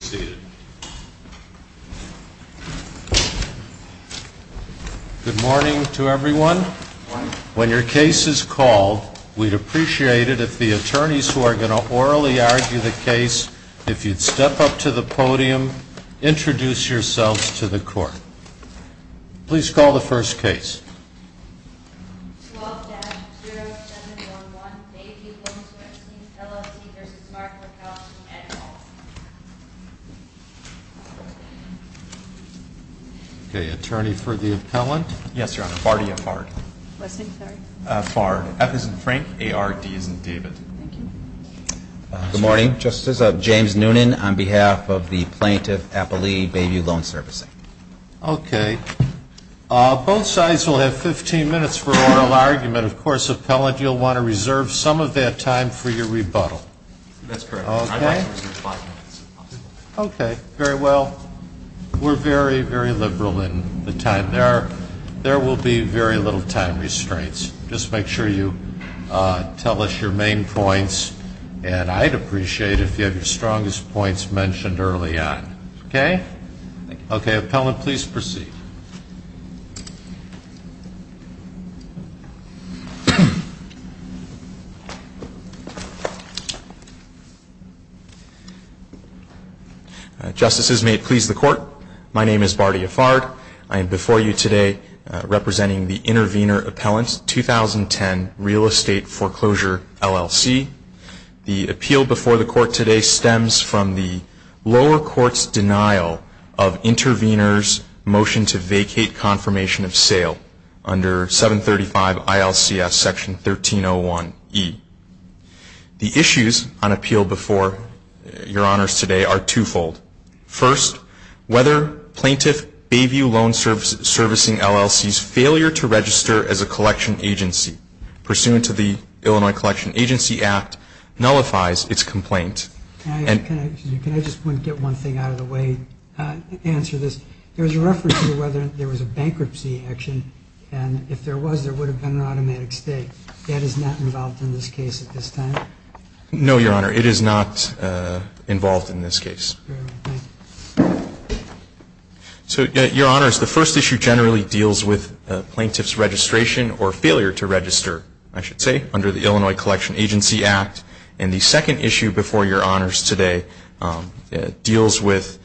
Good morning to everyone. When your case is called, we'd appreciate it if the attorneys who are going to orally argue the case, if you'd step up to the podium, introduce yourselves to the court. Please call the first case. 12-0711 Bayview Loan Servicing, LLC v. Mark Laskowski and all. Attorney for the appellant. Yes, Your Honor. Fardy or Fard? Fard. F isn't Frank. A-R-D isn't David. Thank you. Good morning, Justice. James Noonan on behalf of the Plaintiff Appellee Bayview Loan Servicing. Okay. Both sides will have 15 minutes for oral argument. Of course, appellant, you'll want to reserve some of that time for your rebuttal. That's correct. I'd like to reserve five minutes if possible. Okay. Very well. We're very, very liberal in the time. There will be very little time restraints. Just make sure you tell us your main points, and I'd appreciate it if you have your strongest points mentioned early on. Okay? Thank you. Okay. Appellant, please proceed. Justices, may it please the Court, my name is Fardy or Fard. I am before you today representing the intervener appellant, 2010 Real Estate Foreclosure, LLC. The appeal before the Court today stems from the lower court's denial of intervener's motion to vacate confirmation of sale under 735 ILCS Section 1301E. The issues on appeal before your honors today are twofold. First, whether plaintiff Bayview Loan Servicing, LLC's failure to register as a collection agency pursuant to the Illinois Collection Agency Act nullifies its complaint. Can I just get one thing out of the way to answer this? There was a reference to whether there was a bankruptcy action, and if there was, there would have been an automatic stay. That is not involved in this case at this time? No, Your Honor, it is not involved in this case. So, Your Honors, the first issue generally deals with plaintiff's registration or failure to register, I should say, under the Illinois Collection Agency Act. And the second issue before your honors today deals with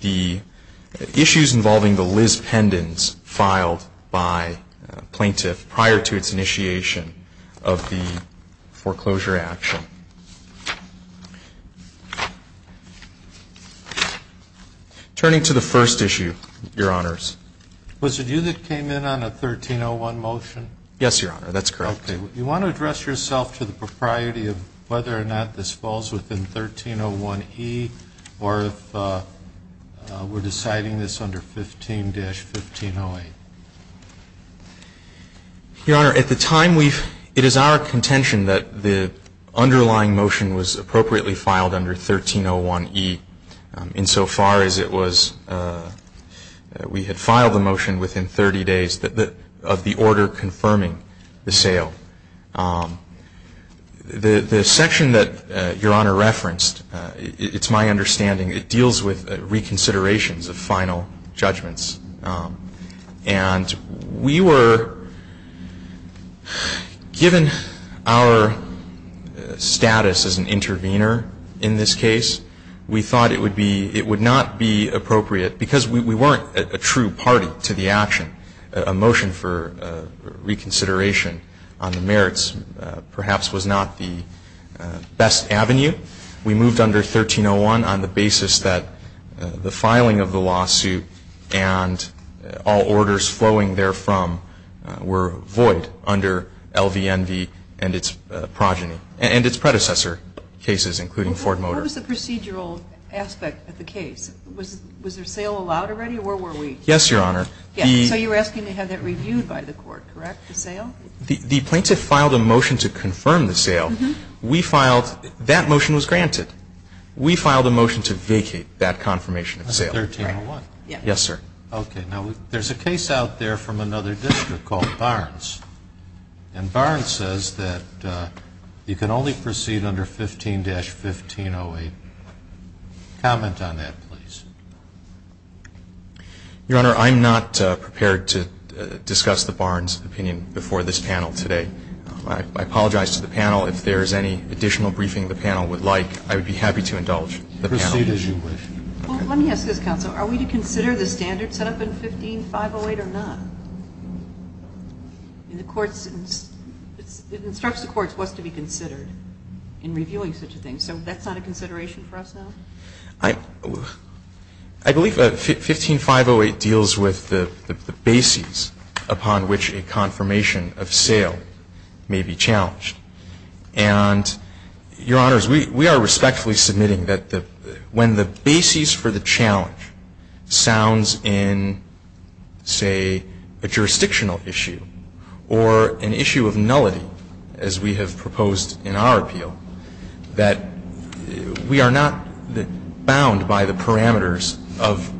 the issues involving the Liz Pendens filed by a plaintiff prior to its initiation of the foreclosure action. Turning to the first issue, Your Honors. Was it you that came in on a 1301 motion? Yes, Your Honor, that's correct. You want to address yourself to the propriety of whether or not this falls within 1301E, or if we're deciding this under 15-1508? Your Honor, at the time, it is our contention that the underlying motion was appropriately filed under 1301E, insofar as it was, we had filed the motion within 30 days of the order confirming the sale. The section that Your Honor referenced, it's my understanding, it deals with reconsiderations of final judgments. And we were, given our status as an intervener in this case, we thought it would be, it would not be appropriate, because we weren't a true party to the action. A motion for reconsideration on the merits perhaps was not the best avenue. We moved under 1301 on the basis that the filing of the lawsuit and all orders flowing therefrom were void under LVNV and its progeny, and its predecessor cases, including Ford Motor. What was the procedural aspect of the case? Was there sale allowed already, or where were we? Yes, Your Honor. So you were asking to have that reviewed by the court, correct, the sale? The plaintiff filed a motion to confirm the sale. We filed, that motion was granted. We filed a motion to vacate that confirmation of sale. That's 1301. Yes, sir. Okay. Now, there's a case out there from another district called Barnes. And Barnes says that you can only proceed under 15-1508. Comment on that, please. Your Honor, I'm not prepared to discuss the Barnes opinion before this panel today. I apologize to the panel. If there is any additional briefing the panel would like, I would be happy to indulge the panel. Proceed as you wish. Well, let me ask this, counsel. Are we to consider the standards set up in 15-508 or not? In the courts, it instructs the courts what's to be considered in reviewing such a thing. So that's not a consideration for us now? I believe 15-508 deals with the basis upon which a confirmation of sale may be challenged. And, Your Honors, we are respectfully submitting that when the basis for the challenge sounds in, say, a jurisdictional issue or an issue of nullity, as we have proposed in our appeal, that we are not bound by the parameters of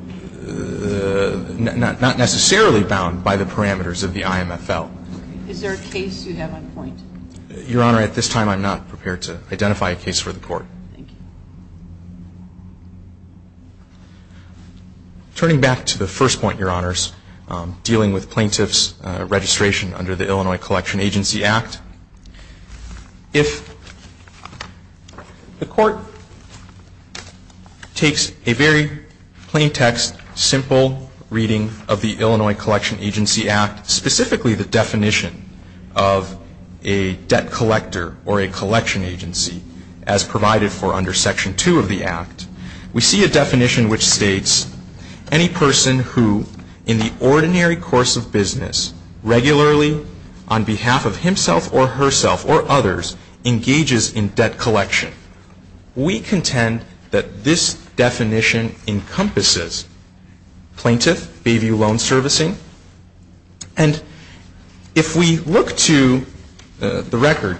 the, not necessarily bound by the parameters of the IMFL. Is there a case you have on point? Your Honor, at this time I'm not prepared to identify a case for the Court. Thank you. Turning back to the first point, Your Honors, dealing with plaintiffs' registration under the Illinois Collection Agency Act. If the Court takes a very plain text, simple reading of the Illinois Collection Agency Act, specifically the definition of a debt collector or a collection agency as provided for under Section 2 of the Act, we see a definition which states any person who, in the ordinary course of business, regularly, on behalf of himself or herself or others, engages in debt collection. We contend that this definition encompasses plaintiff, Bayview Loan Servicing. And if we look to the record,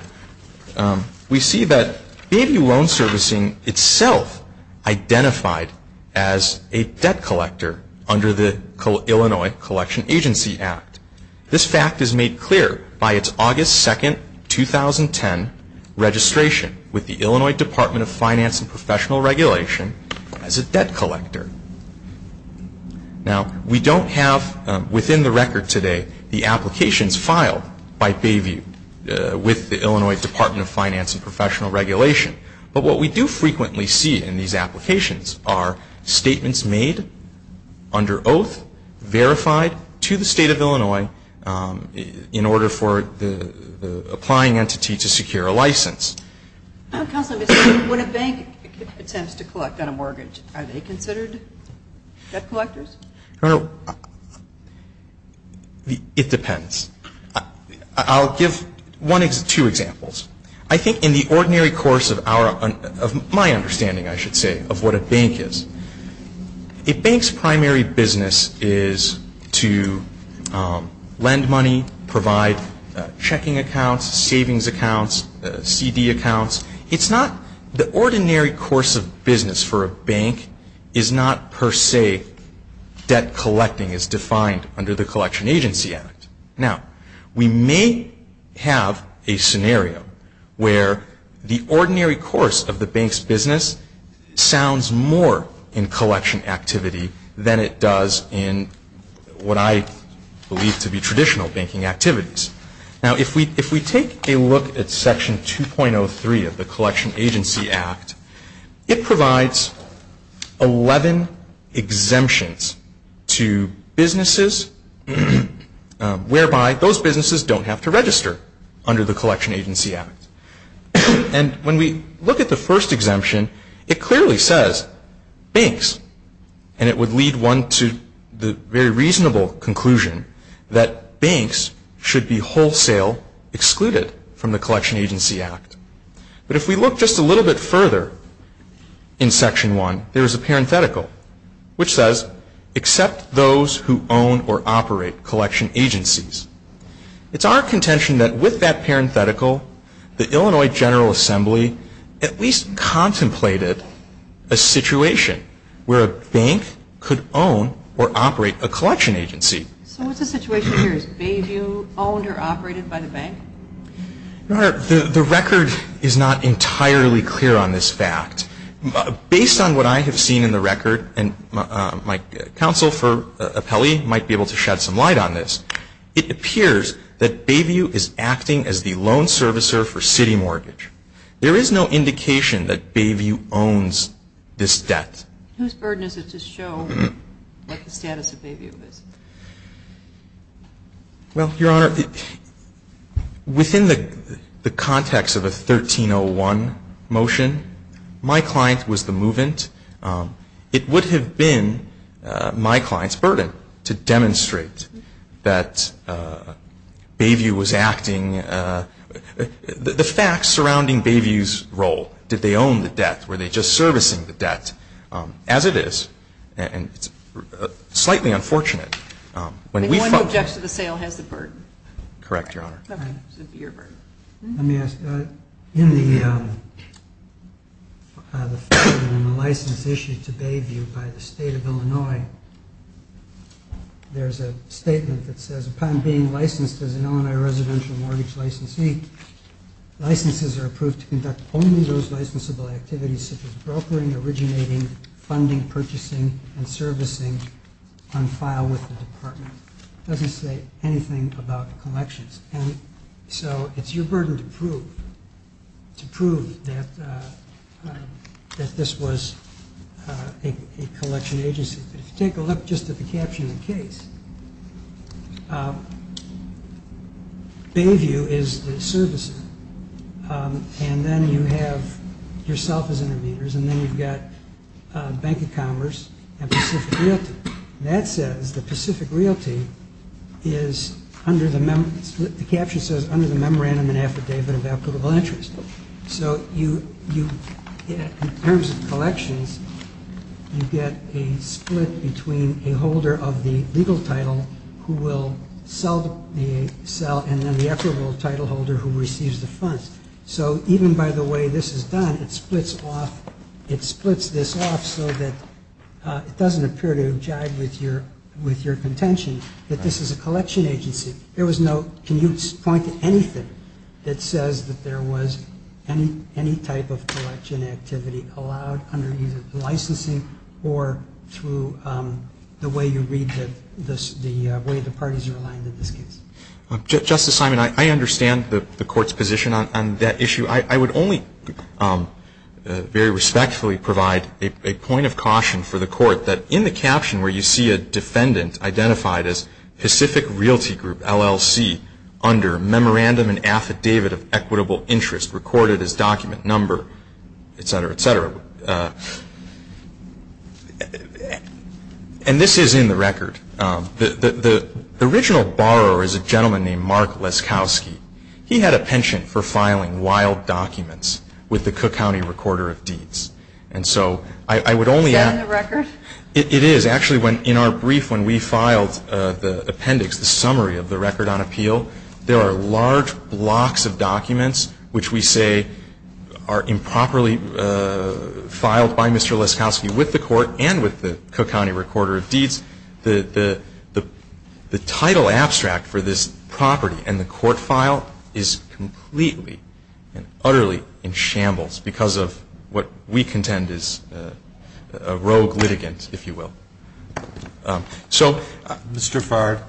we see that Bayview Loan Servicing itself identified as a debt collector under the Illinois Collection Agency Act. This fact is made clear by its August 2, 2010, registration with the Illinois Department of Finance and Professional Regulation as a debt collector. Now, we don't have within the record today the applications filed by Bayview with the Illinois Department of Finance and Professional Regulation. But what we do frequently see in these applications are statements made under Bayview Loan Servicing. And this is a case in which a bank in the state of Illinois, in order for the applying entity to secure a license. Counsel, when a bank attempts to collect on a mortgage, are they considered debt collectors? It depends. I'll give one or two examples. I think in the ordinary course of my understanding, I should say, of what a bank is, a bank's primary business is to lend money, provide checking accounts, savings accounts, CD accounts. It's not the ordinary course of business for a bank is not per se debt collecting as defined under the Collection Agency Act. Now, we may have a scenario where the ordinary course of the bank's business sounds more in collection activity than it does in what I believe to be traditional banking activities. Now, if we take a look at Section 2.03 of the Collection Agency Act, it provides 11 exemptions to businesses whereby those businesses don't have to register under the Collection Agency Act. And when we look at the first exemption, it clearly says banks. And it would lead one to the very reasonable conclusion that banks should be wholesale excluded from the Collection Agency Act. But if we look just a little bit further in Section 1, there is a parenthetical which says, except those who own or operate collection agencies. It's our contention that with that parenthetical, the Illinois General Assembly at least contemplated a situation where a bank could own or operate a collection agency. So what's the situation here? Is Bayview owned or operated by the bank? Your Honor, the record is not entirely clear on this fact. Based on what I have seen in the record, and my counsel for appellee might be able to shed some light on this, it appears that Bayview is acting as the loan servicer for city mortgage. There is no indication that Bayview owns this debt. Whose burden is it to show what the status of Bayview is? Well, Your Honor, within the context of a 1301 motion, my client was the movant. It would have been my client's burden to demonstrate that Bayview was acting the facts surrounding Bayview's role. Did they own the debt? Were they just servicing the debt? As it is, and it's slightly unfortunate. The one who objects to the sale has the burden. Correct, Your Honor. Let me ask, in the license issued to Bayview by the State of Illinois, there's a statement that says, Upon being licensed as an Illinois residential mortgage licensee, licenses are approved to conduct only those licensable activities such as operating, funding, purchasing, and servicing on file with the department. It doesn't say anything about the collections. And so it's your burden to prove that this was a collection agency. But if you take a look just at the caption of the case, Bayview is the servicer, and then you have yourself as interveners, and then you've got Bank of Commerce and Pacific Realty. That says the Pacific Realty is under the mem ñ the caption says under the memorandum and affidavit of applicable interest. So in terms of collections, you get a split between a holder of the legal title who will sell the cell and then the equitable title holder who receives the funds. So even by the way this is done, it splits off ñ it splits this off so that it doesn't appear to jive with your contention that this is a collection agency. There was no ñ can you point to anything that says that there was any type of collection activity allowed under either licensing or through the way you read the ñ the way the parties are aligned in this case? Justice Simon, I understand the court's position on that issue. I would only very respectfully provide a point of caution for the court that in the caption where you see a defendant identified as Pacific Realty Group, LLC, under memorandum and affidavit of equitable interest recorded as document number, et cetera, et cetera, and this is in the record. The original borrower is a gentleman named Mark Leskowski. He had a penchant for filing wild documents with the Cook County Recorder of Deeds. And so I would only ñ Is that in the record? It is. Actually, in our brief when we filed the appendix, the summary of the record on appeal, there are large blocks of documents which we say are improperly filed by Mr. Leskowski with the court and with the Cook County Recorder of Deeds. The title abstract for this property and the court file is completely and utterly in shambles because of what we contend is a rogue litigant, if you will. So, Mr. Farr,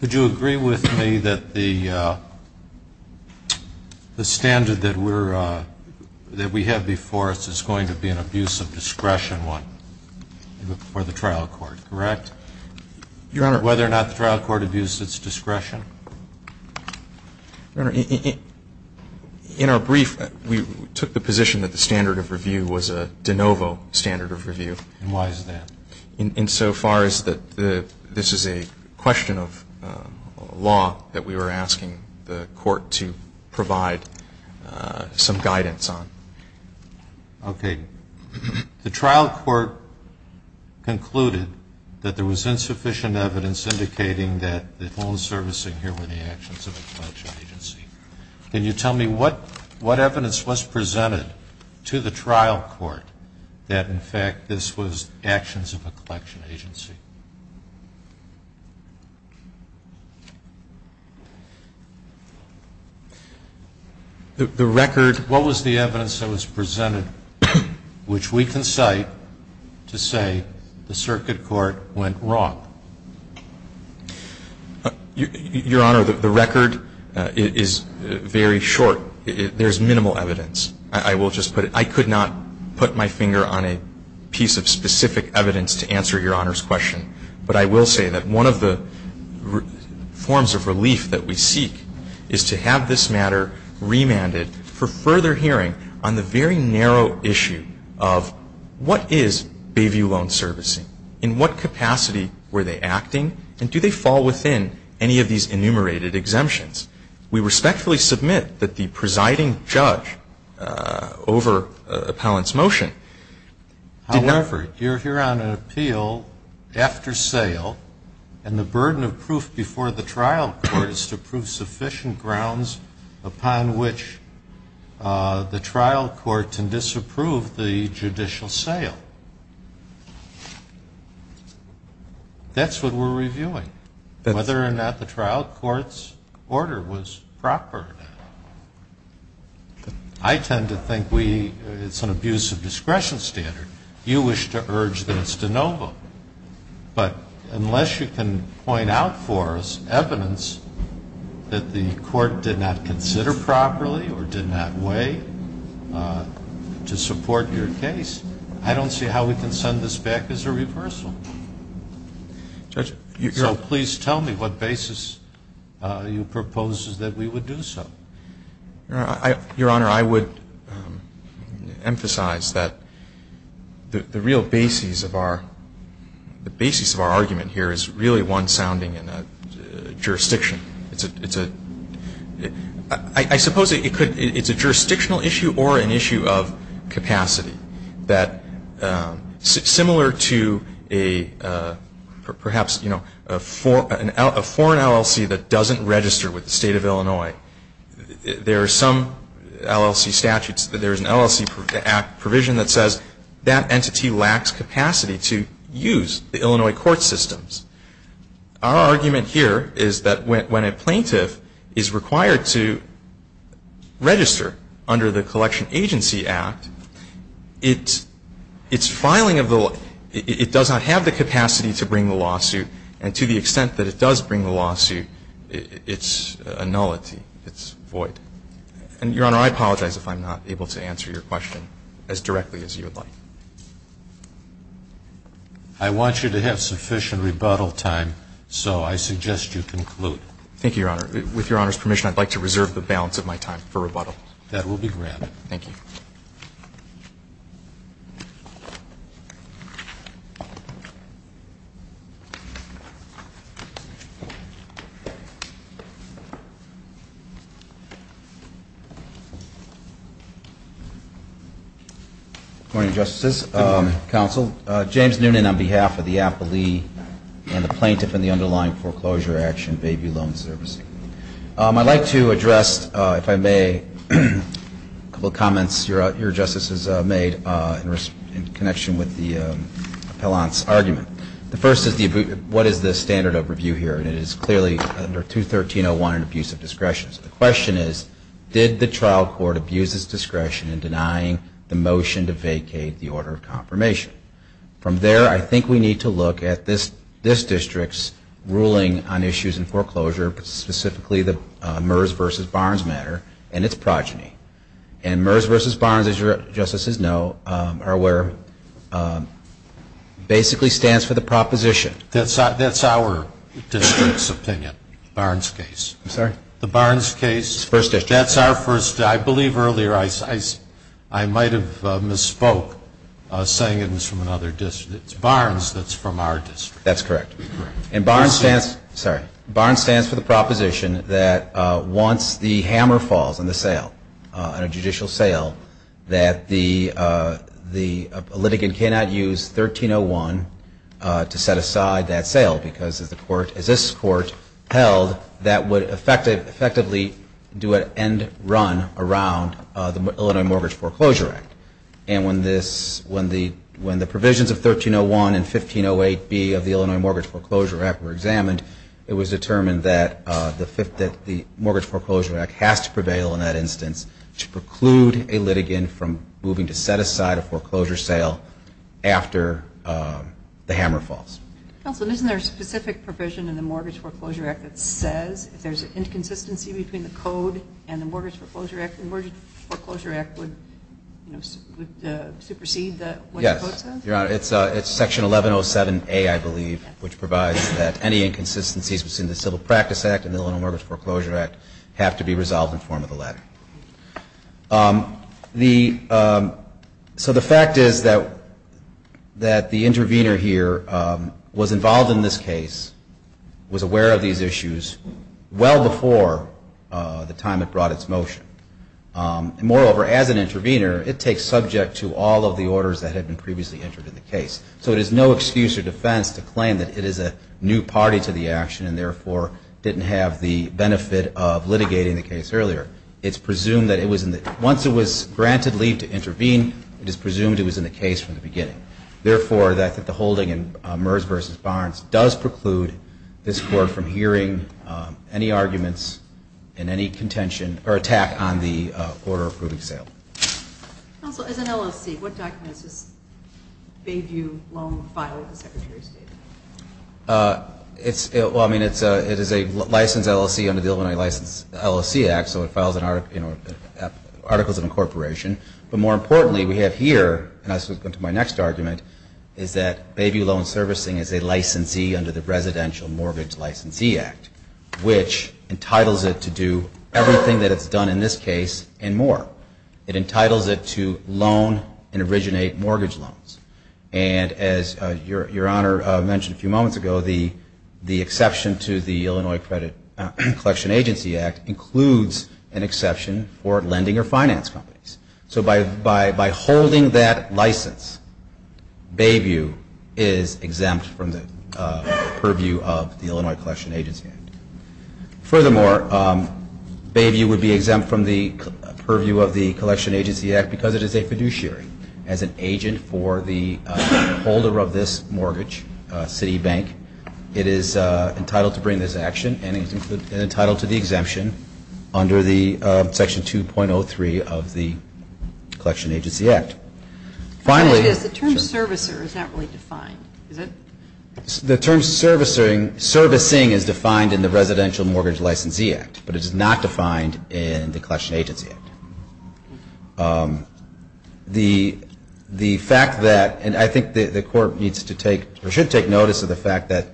would you agree with me that the standard that we're ñ that we have before us is going to be an abuse of discretion one for the trial court, correct? Your Honor. Whether or not the trial court abused its discretion. Your Honor, in our brief, we took the position that the standard of review was a de novo standard of review. And why is that? In so far as that this is a question of law that we were asking the court to provide some guidance on. Okay. The trial court concluded that there was insufficient evidence indicating that the only service in here were the actions of a collection agency. Can you tell me what evidence was presented to the trial court that, in fact, this was actions of a collection agency? The record ñ what was the evidence that was presented which we can cite to say the circuit court went wrong? Your Honor, the record is very short. There's minimal evidence. I will just put it ñ I could not put my finger on a piece of specific evidence to answer Your Honor's question. But I will say that one of the forms of relief that we seek is to have this matter remanded for further hearing on the very narrow issue of what is Bayview Loan Servicing. In what capacity were they acting? And do they fall within any of these enumerated exemptions? We respectfully submit that the presiding judge over appellant's motion did not However, Your Honor, appeal after sale and the burden of proof before the trial court is to prove sufficient grounds upon which the trial court can disapprove the judicial sale. That's what we're reviewing. Whether or not the trial court's order was proper or not. I tend to think we ñ it's an abuse of discretion standard. You wish to urge that it's de novo. But unless you can point out for us evidence that the court did not consider this matter to be an abuse of discretion, I don't see how we can send this back as a reversal. So please tell me what basis you propose that we would do so. Your Honor, I would emphasize that the real basis of our ñ the basis of our argument here is really one sounding in a jurisdiction. It's a ñ I suppose it could ñ it's a jurisdictional issue or an issue of capacity that similar to a perhaps, you know, a foreign LLC that doesn't register with the State of Illinois. There are some LLC statutes that there's an LLC provision that says that entity lacks capacity to use the Illinois court systems. Our argument here is that when a plaintiff is required to register under the Collection Agency Act, it's ñ it's filing of the ñ it does not have the capacity to bring the lawsuit. And to the extent that it does bring the lawsuit, it's a nullity. It's void. And, Your Honor, I apologize if I'm not able to answer your question as directly as you would like. I want you to have sufficient rebuttal time, so I suggest you conclude. Thank you, Your Honor. With Your Honor's permission, I'd like to reserve the balance of my time for rebuttal. That will be granted. Thank you. Good morning, Justices, Counsel. James Noonan on behalf of the appellee and the plaintiff in the underlying foreclosure action, Bayview Loan Service. I'd like to address, if I may, a couple of comments your justices made in connection with the appellant's argument. The first is the ñ what is the standard of review here? And it is clearly under 213.01, an abuse of discretion. So the question is, did the trial court abuse its discretion in denying the motion to vacate the order of confirmation? From there, I think we need to look at this district's ruling on issues in foreclosure specifically the Mears v. Barnes matter and its progeny. And Mears v. Barnes, as your justices know, are where basically stands for the proposition. That's our district's opinion, Barnes case. I'm sorry? The Barnes case. First district. That's our first ñ I believe earlier I might have misspoke, saying it was from another district. It's Barnes that's from our district. That's correct. And Barnes stands ñ sorry ñ Barnes stands for the proposition that once the hammer falls on the sale, on a judicial sale, that the litigant cannot use 1301 to set aside that sale, because as this court held, that would effectively do an end run around the Illinois Mortgage Foreclosure Act. And when the provisions of 1301 and 1508B of the Illinois Mortgage Foreclosure Act were examined, it was determined that the Mortgage Foreclosure Act has to prevail in that instance to preclude a litigant from moving to set aside a foreclosure sale after the hammer falls. Counsel, isn't there a specific provision in the Mortgage Foreclosure Act that says if there's an inconsistency between the code and the Mortgage Foreclosure Act, the Mortgage Foreclosure Act would, you know, supersede what the code says? Yes. Your Honor, it's section 1107A, I believe, which provides that any inconsistencies between the Civil Practice Act and the Illinois Mortgage Foreclosure Act have to be resolved in the form of a letter. The ñ so the fact is that the intervener here was involved in this case, was aware of these issues well before the time it brought its motion. And moreover, as an intervener, it takes subject to all of the orders that had been previously entered in the case. So it is no excuse or defense to claim that it is a new party to the action and therefore didn't have the benefit of litigating the case earlier. It's presumed that it was in the ñ once it was granted leave to intervene, it is presumed it was in the case from the beginning. Therefore, I think the holding in Merz v. Barnes does preclude this Court from hearing any arguments and any contention or attack on the order approving sale. Counsel, as an LLC, what document is this Bayview Loan file that the Secretary stated? It's ñ well, I mean, it's a ñ it is a licensed LLC under the Illinois License LLC Act, so it files an article ñ you know, articles of incorporation. But more importantly, we have here ñ and this will come to my next argument ñ is that Bayview Loan Servicing is a licensee under the Residential Mortgage Licensee Act, which entitles it to do everything that it's done in this case and more. It entitles it to loan and originate mortgage loans. And as Your Honor mentioned a few moments ago, the exception to the Illinois Credit Collection Agency Act includes an exception for lending or finance companies. So by holding that license, Bayview is exempt from the purview of the Illinois Collection Agency Act. Furthermore, Bayview would be exempt from the purview of the Collection Agency Act because it is a fiduciary. As an agent for the holder of this mortgage, Citibank, it is entitled to bring this action and it is entitled to the exemption under the Section 2.03 of the Collection Agency Act. Finally ñ The term ìservicerî is not really defined, is it? The term ìservicingî is defined in the Residential Mortgage Licensee Act, but it is not defined in the Collection Agency Act. The fact that ñ and I think the Court needs to take ñ or should take notice of the fact that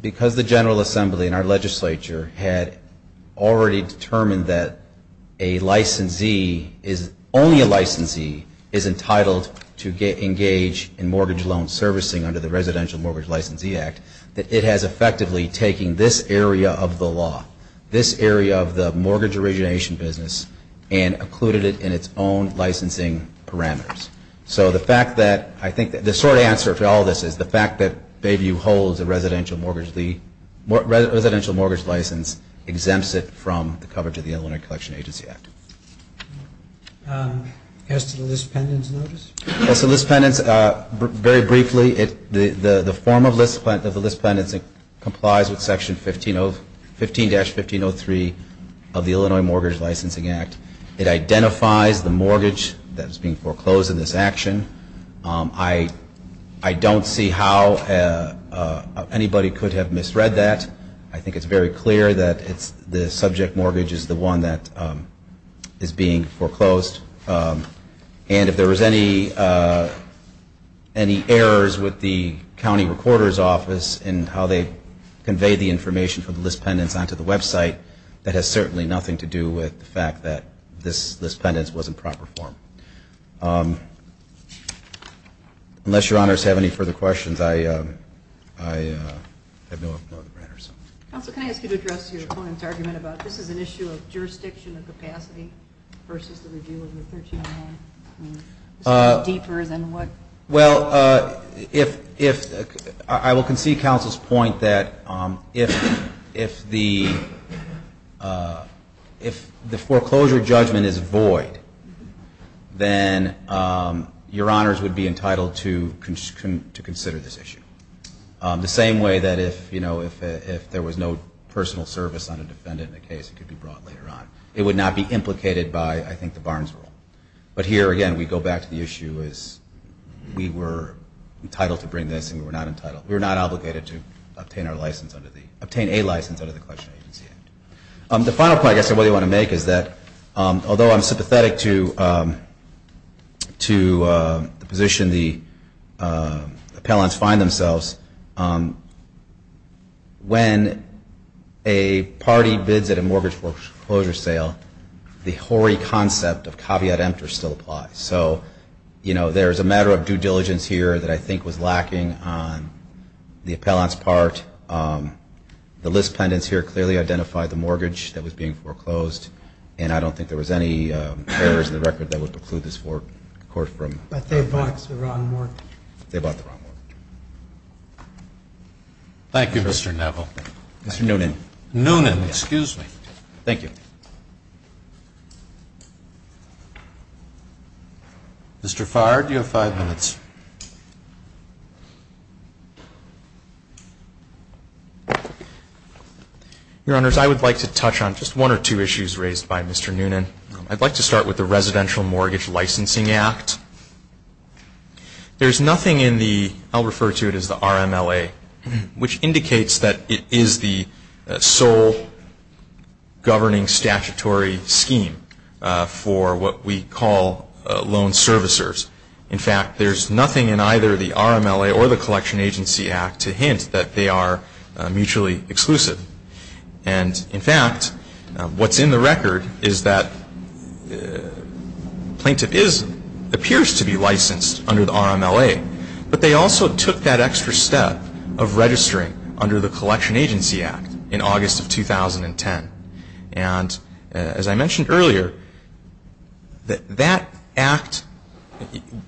because the General Assembly and our legislature had already determined that a licensee, only a licensee, is entitled to engage in mortgage loan servicing under the Residential Mortgage Licensee Act, that it has effectively taken this area of the law, this area of the mortgage origination business, and included it in its own licensing parameters. So the fact that ñ I think the short answer to all this is the fact that Bayview holds a residential mortgage license exempts it from the coverage of the Illinois Collection Agency Act. As to the list pendants notice? As to the list pendants, very briefly, the form of the list pendants complies with Section 15-1503 of the Illinois Mortgage Licensing Act. It identifies the mortgage that is being foreclosed in this action. I donít see how anybody could have misread that. I think itís very clear that the subject mortgage is the one that is being foreclosed. And if there was any errors with the county recorderís office in how they conveyed the information for the list pendants onto the website, that has certainly nothing to do with the fact that this list pendants was in proper form. Unless your honors have any further questions, I have no other matters. Counsel, can I ask you to address your opponentís argument about this is an issue of jurisdiction and capacity versus the review of the 1399? Well, I will concede counselís point that if the foreclosure judgment is void, then your honors would be entitled to consider this issue. The same way that if there was no personal service on a defendant in the case it could be brought later on. It would not be implicated by, I think, the Barnes rule. But here, again, we go back to the issue as we were entitled to bring this and we were not entitled. We were not obligated to obtain a license under the collection agency. The final point I guess I really want to make is that although Iím sympathetic to the position the appellants find themselves, when a party bids at a mortgage foreclosure sale, the hoary concept of caveat emptor still applies. So, you know, there is a matter of due diligence here that I think was lacking on the appellantsí part. The list pendants here clearly identify the mortgage that was being foreclosed and I donít think there was any errors in the record that would preclude this court fromÖ But they bought the wrong mortgage. Thank you, Mr. Neville. Mr. Noonan. Noonan, excuse me. Thank you. Mr. Farr, you have five minutes. Your honors, I would like to touch on just one or two issues raised by Mr. Noonan. Iíd like to start with the Residential Mortgage Licensing Act. Thereís nothing in the, Iíll refer to it as the RMLA, which indicates that it is the sole governing statutory scheme for what we call loan servicers. In fact, thereís nothing in either the RMLA or the Collection Agency Act to hint that they are mutually exclusive. And in fact, whatís in the record is that plaintiff is, appears to be licensed under the RMLA, but they also took that extra step of registering under the Collection Agency Act in August of 2010. And as I mentioned earlier, that act,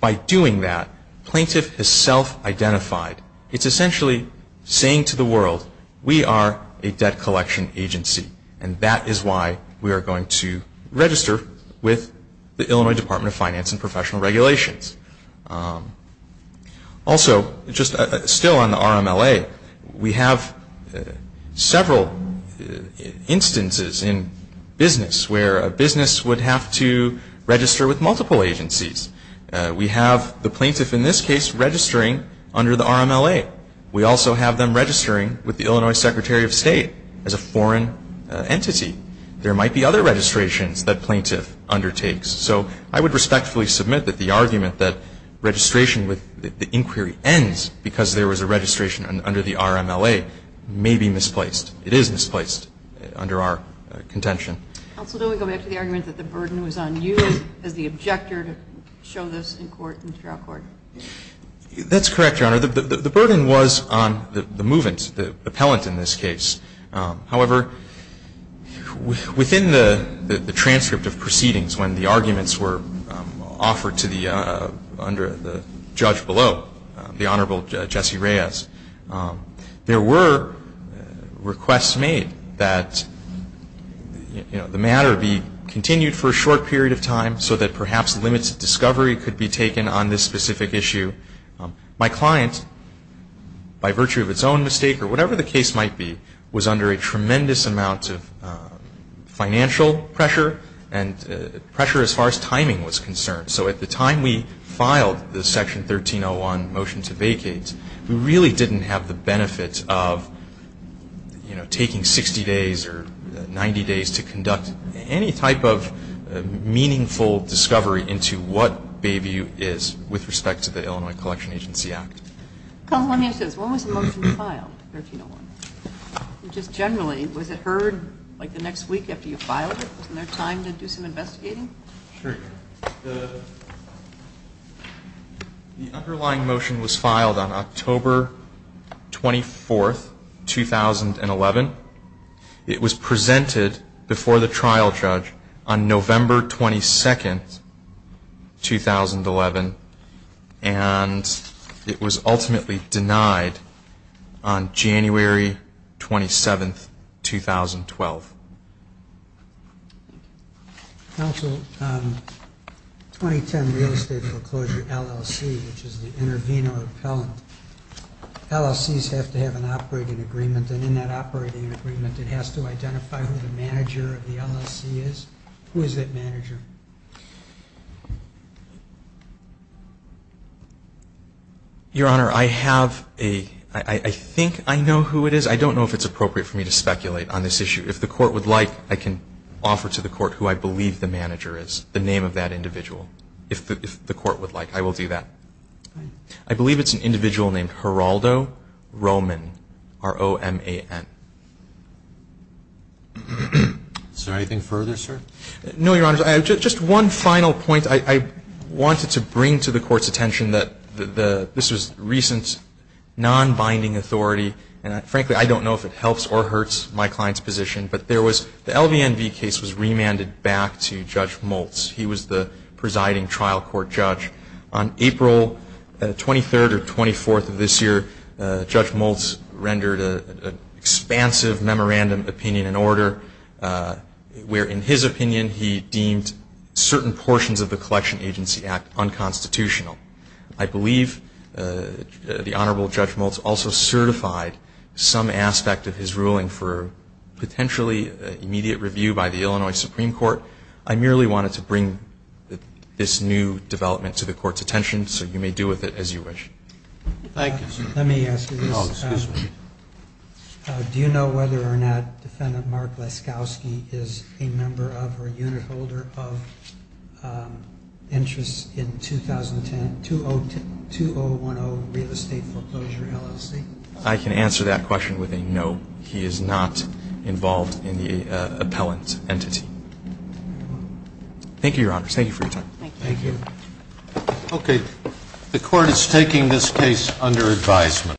by doing that, plaintiff is self-identified. Itís essentially saying to the world, ìWe are a debt collection agency, and that is why we are going to register with the Illinois Department of Finance and Professional Regulations.î Also, just still on the RMLA, we have several instances in business where a business would have to register with multiple agencies. We have the plaintiff in this case registering under the RMLA. We also have them registering with the Illinois Secretary of State as a foreign entity. There might be other registrations that plaintiff undertakes. So I would respectfully submit that the argument that registration with the inquiry ends because there was a registration under the RMLA may be misplaced. It is misplaced under our contention. Counsel, do we go back to the argument that the burden was on you as the objector to show this in court, in trial court? Thatís correct, Your Honor. The burden was on the movant, the appellant in this case. However, within the transcript of proceedings when the arguments were offered to the under the judge below, the Honorable Jesse Reyes, there were requests made that the matter be continued for a short period of time so that perhaps limits of discovery could be taken on this specific issue. My client, by virtue of its own mistake or whatever the case might be, was under a tremendous amount of financial pressure and pressure as far as timing was concerned. So at the time we filed the Section 1301 motion to vacate, we really didnít have the benefit of, you know, taking 60 days or 90 days to conduct any type of meaningful discovery into what Bayview is with respect to the Illinois Collection Agency Act. Counsel, let me ask this. When was the motion filed? Just generally, was it heard like the next week after you filed it? Wasnít there time to do some investigating? The underlying motion was filed on October 24th, 2011. It was presented before the trial judge on November 22nd, 2011, and it was ultimately denied on January 27th, 2012. Counsel, 2010 real estate foreclosure LLC, which is the intervenor appellant, LLCs have to have an operating agreement, and in that operating agreement it has to identify who the manager of the LLC is. Who is that manager? Your Honor, I have a ñ I think I know who it is. I donít know if itís appropriate for me to speculate on this issue. If the Court would like, I can offer to the Court who I believe the manager is, the name of that individual, if the Court would like. I will do that. I believe itís an individual named Geraldo Roman, R-O-M-A-N. Is there anything further, sir? No, Your Honor. Just one final point. I wanted to bring to the Courtís attention that this was recent non-binding authority, and frankly, I donít know if it helps or hurts my clientís position, but there was ñ the LVNV case was remanded back to Judge Moultz. He was the presiding trial court judge. On April 23rd or 24th of this year, Judge Moultz rendered an expansive memorandum opinion in order, where in his opinion he deemed certain portions of the Collection Agency Act unconstitutional. I believe the Honorable Judge Moultz also certified some aspect of his ruling for potentially immediate review by the Illinois Supreme Court. I merely wanted to bring this new development to the Courtís attention, so you may do with it as you wish. Thank you, sir. Let me ask you this. Oh, excuse me. Do you know whether or not Defendant Mark Laskowski is a member of or unit holder of interests in 2010 ñ 2010 ñ 2010 real estate foreclosure LLC? I can answer that question with a no. He is not involved in the appellant entity. Thank you, Your Honors. Thank you for your time. Thank you. Okay. The Court is taking this case under advisement.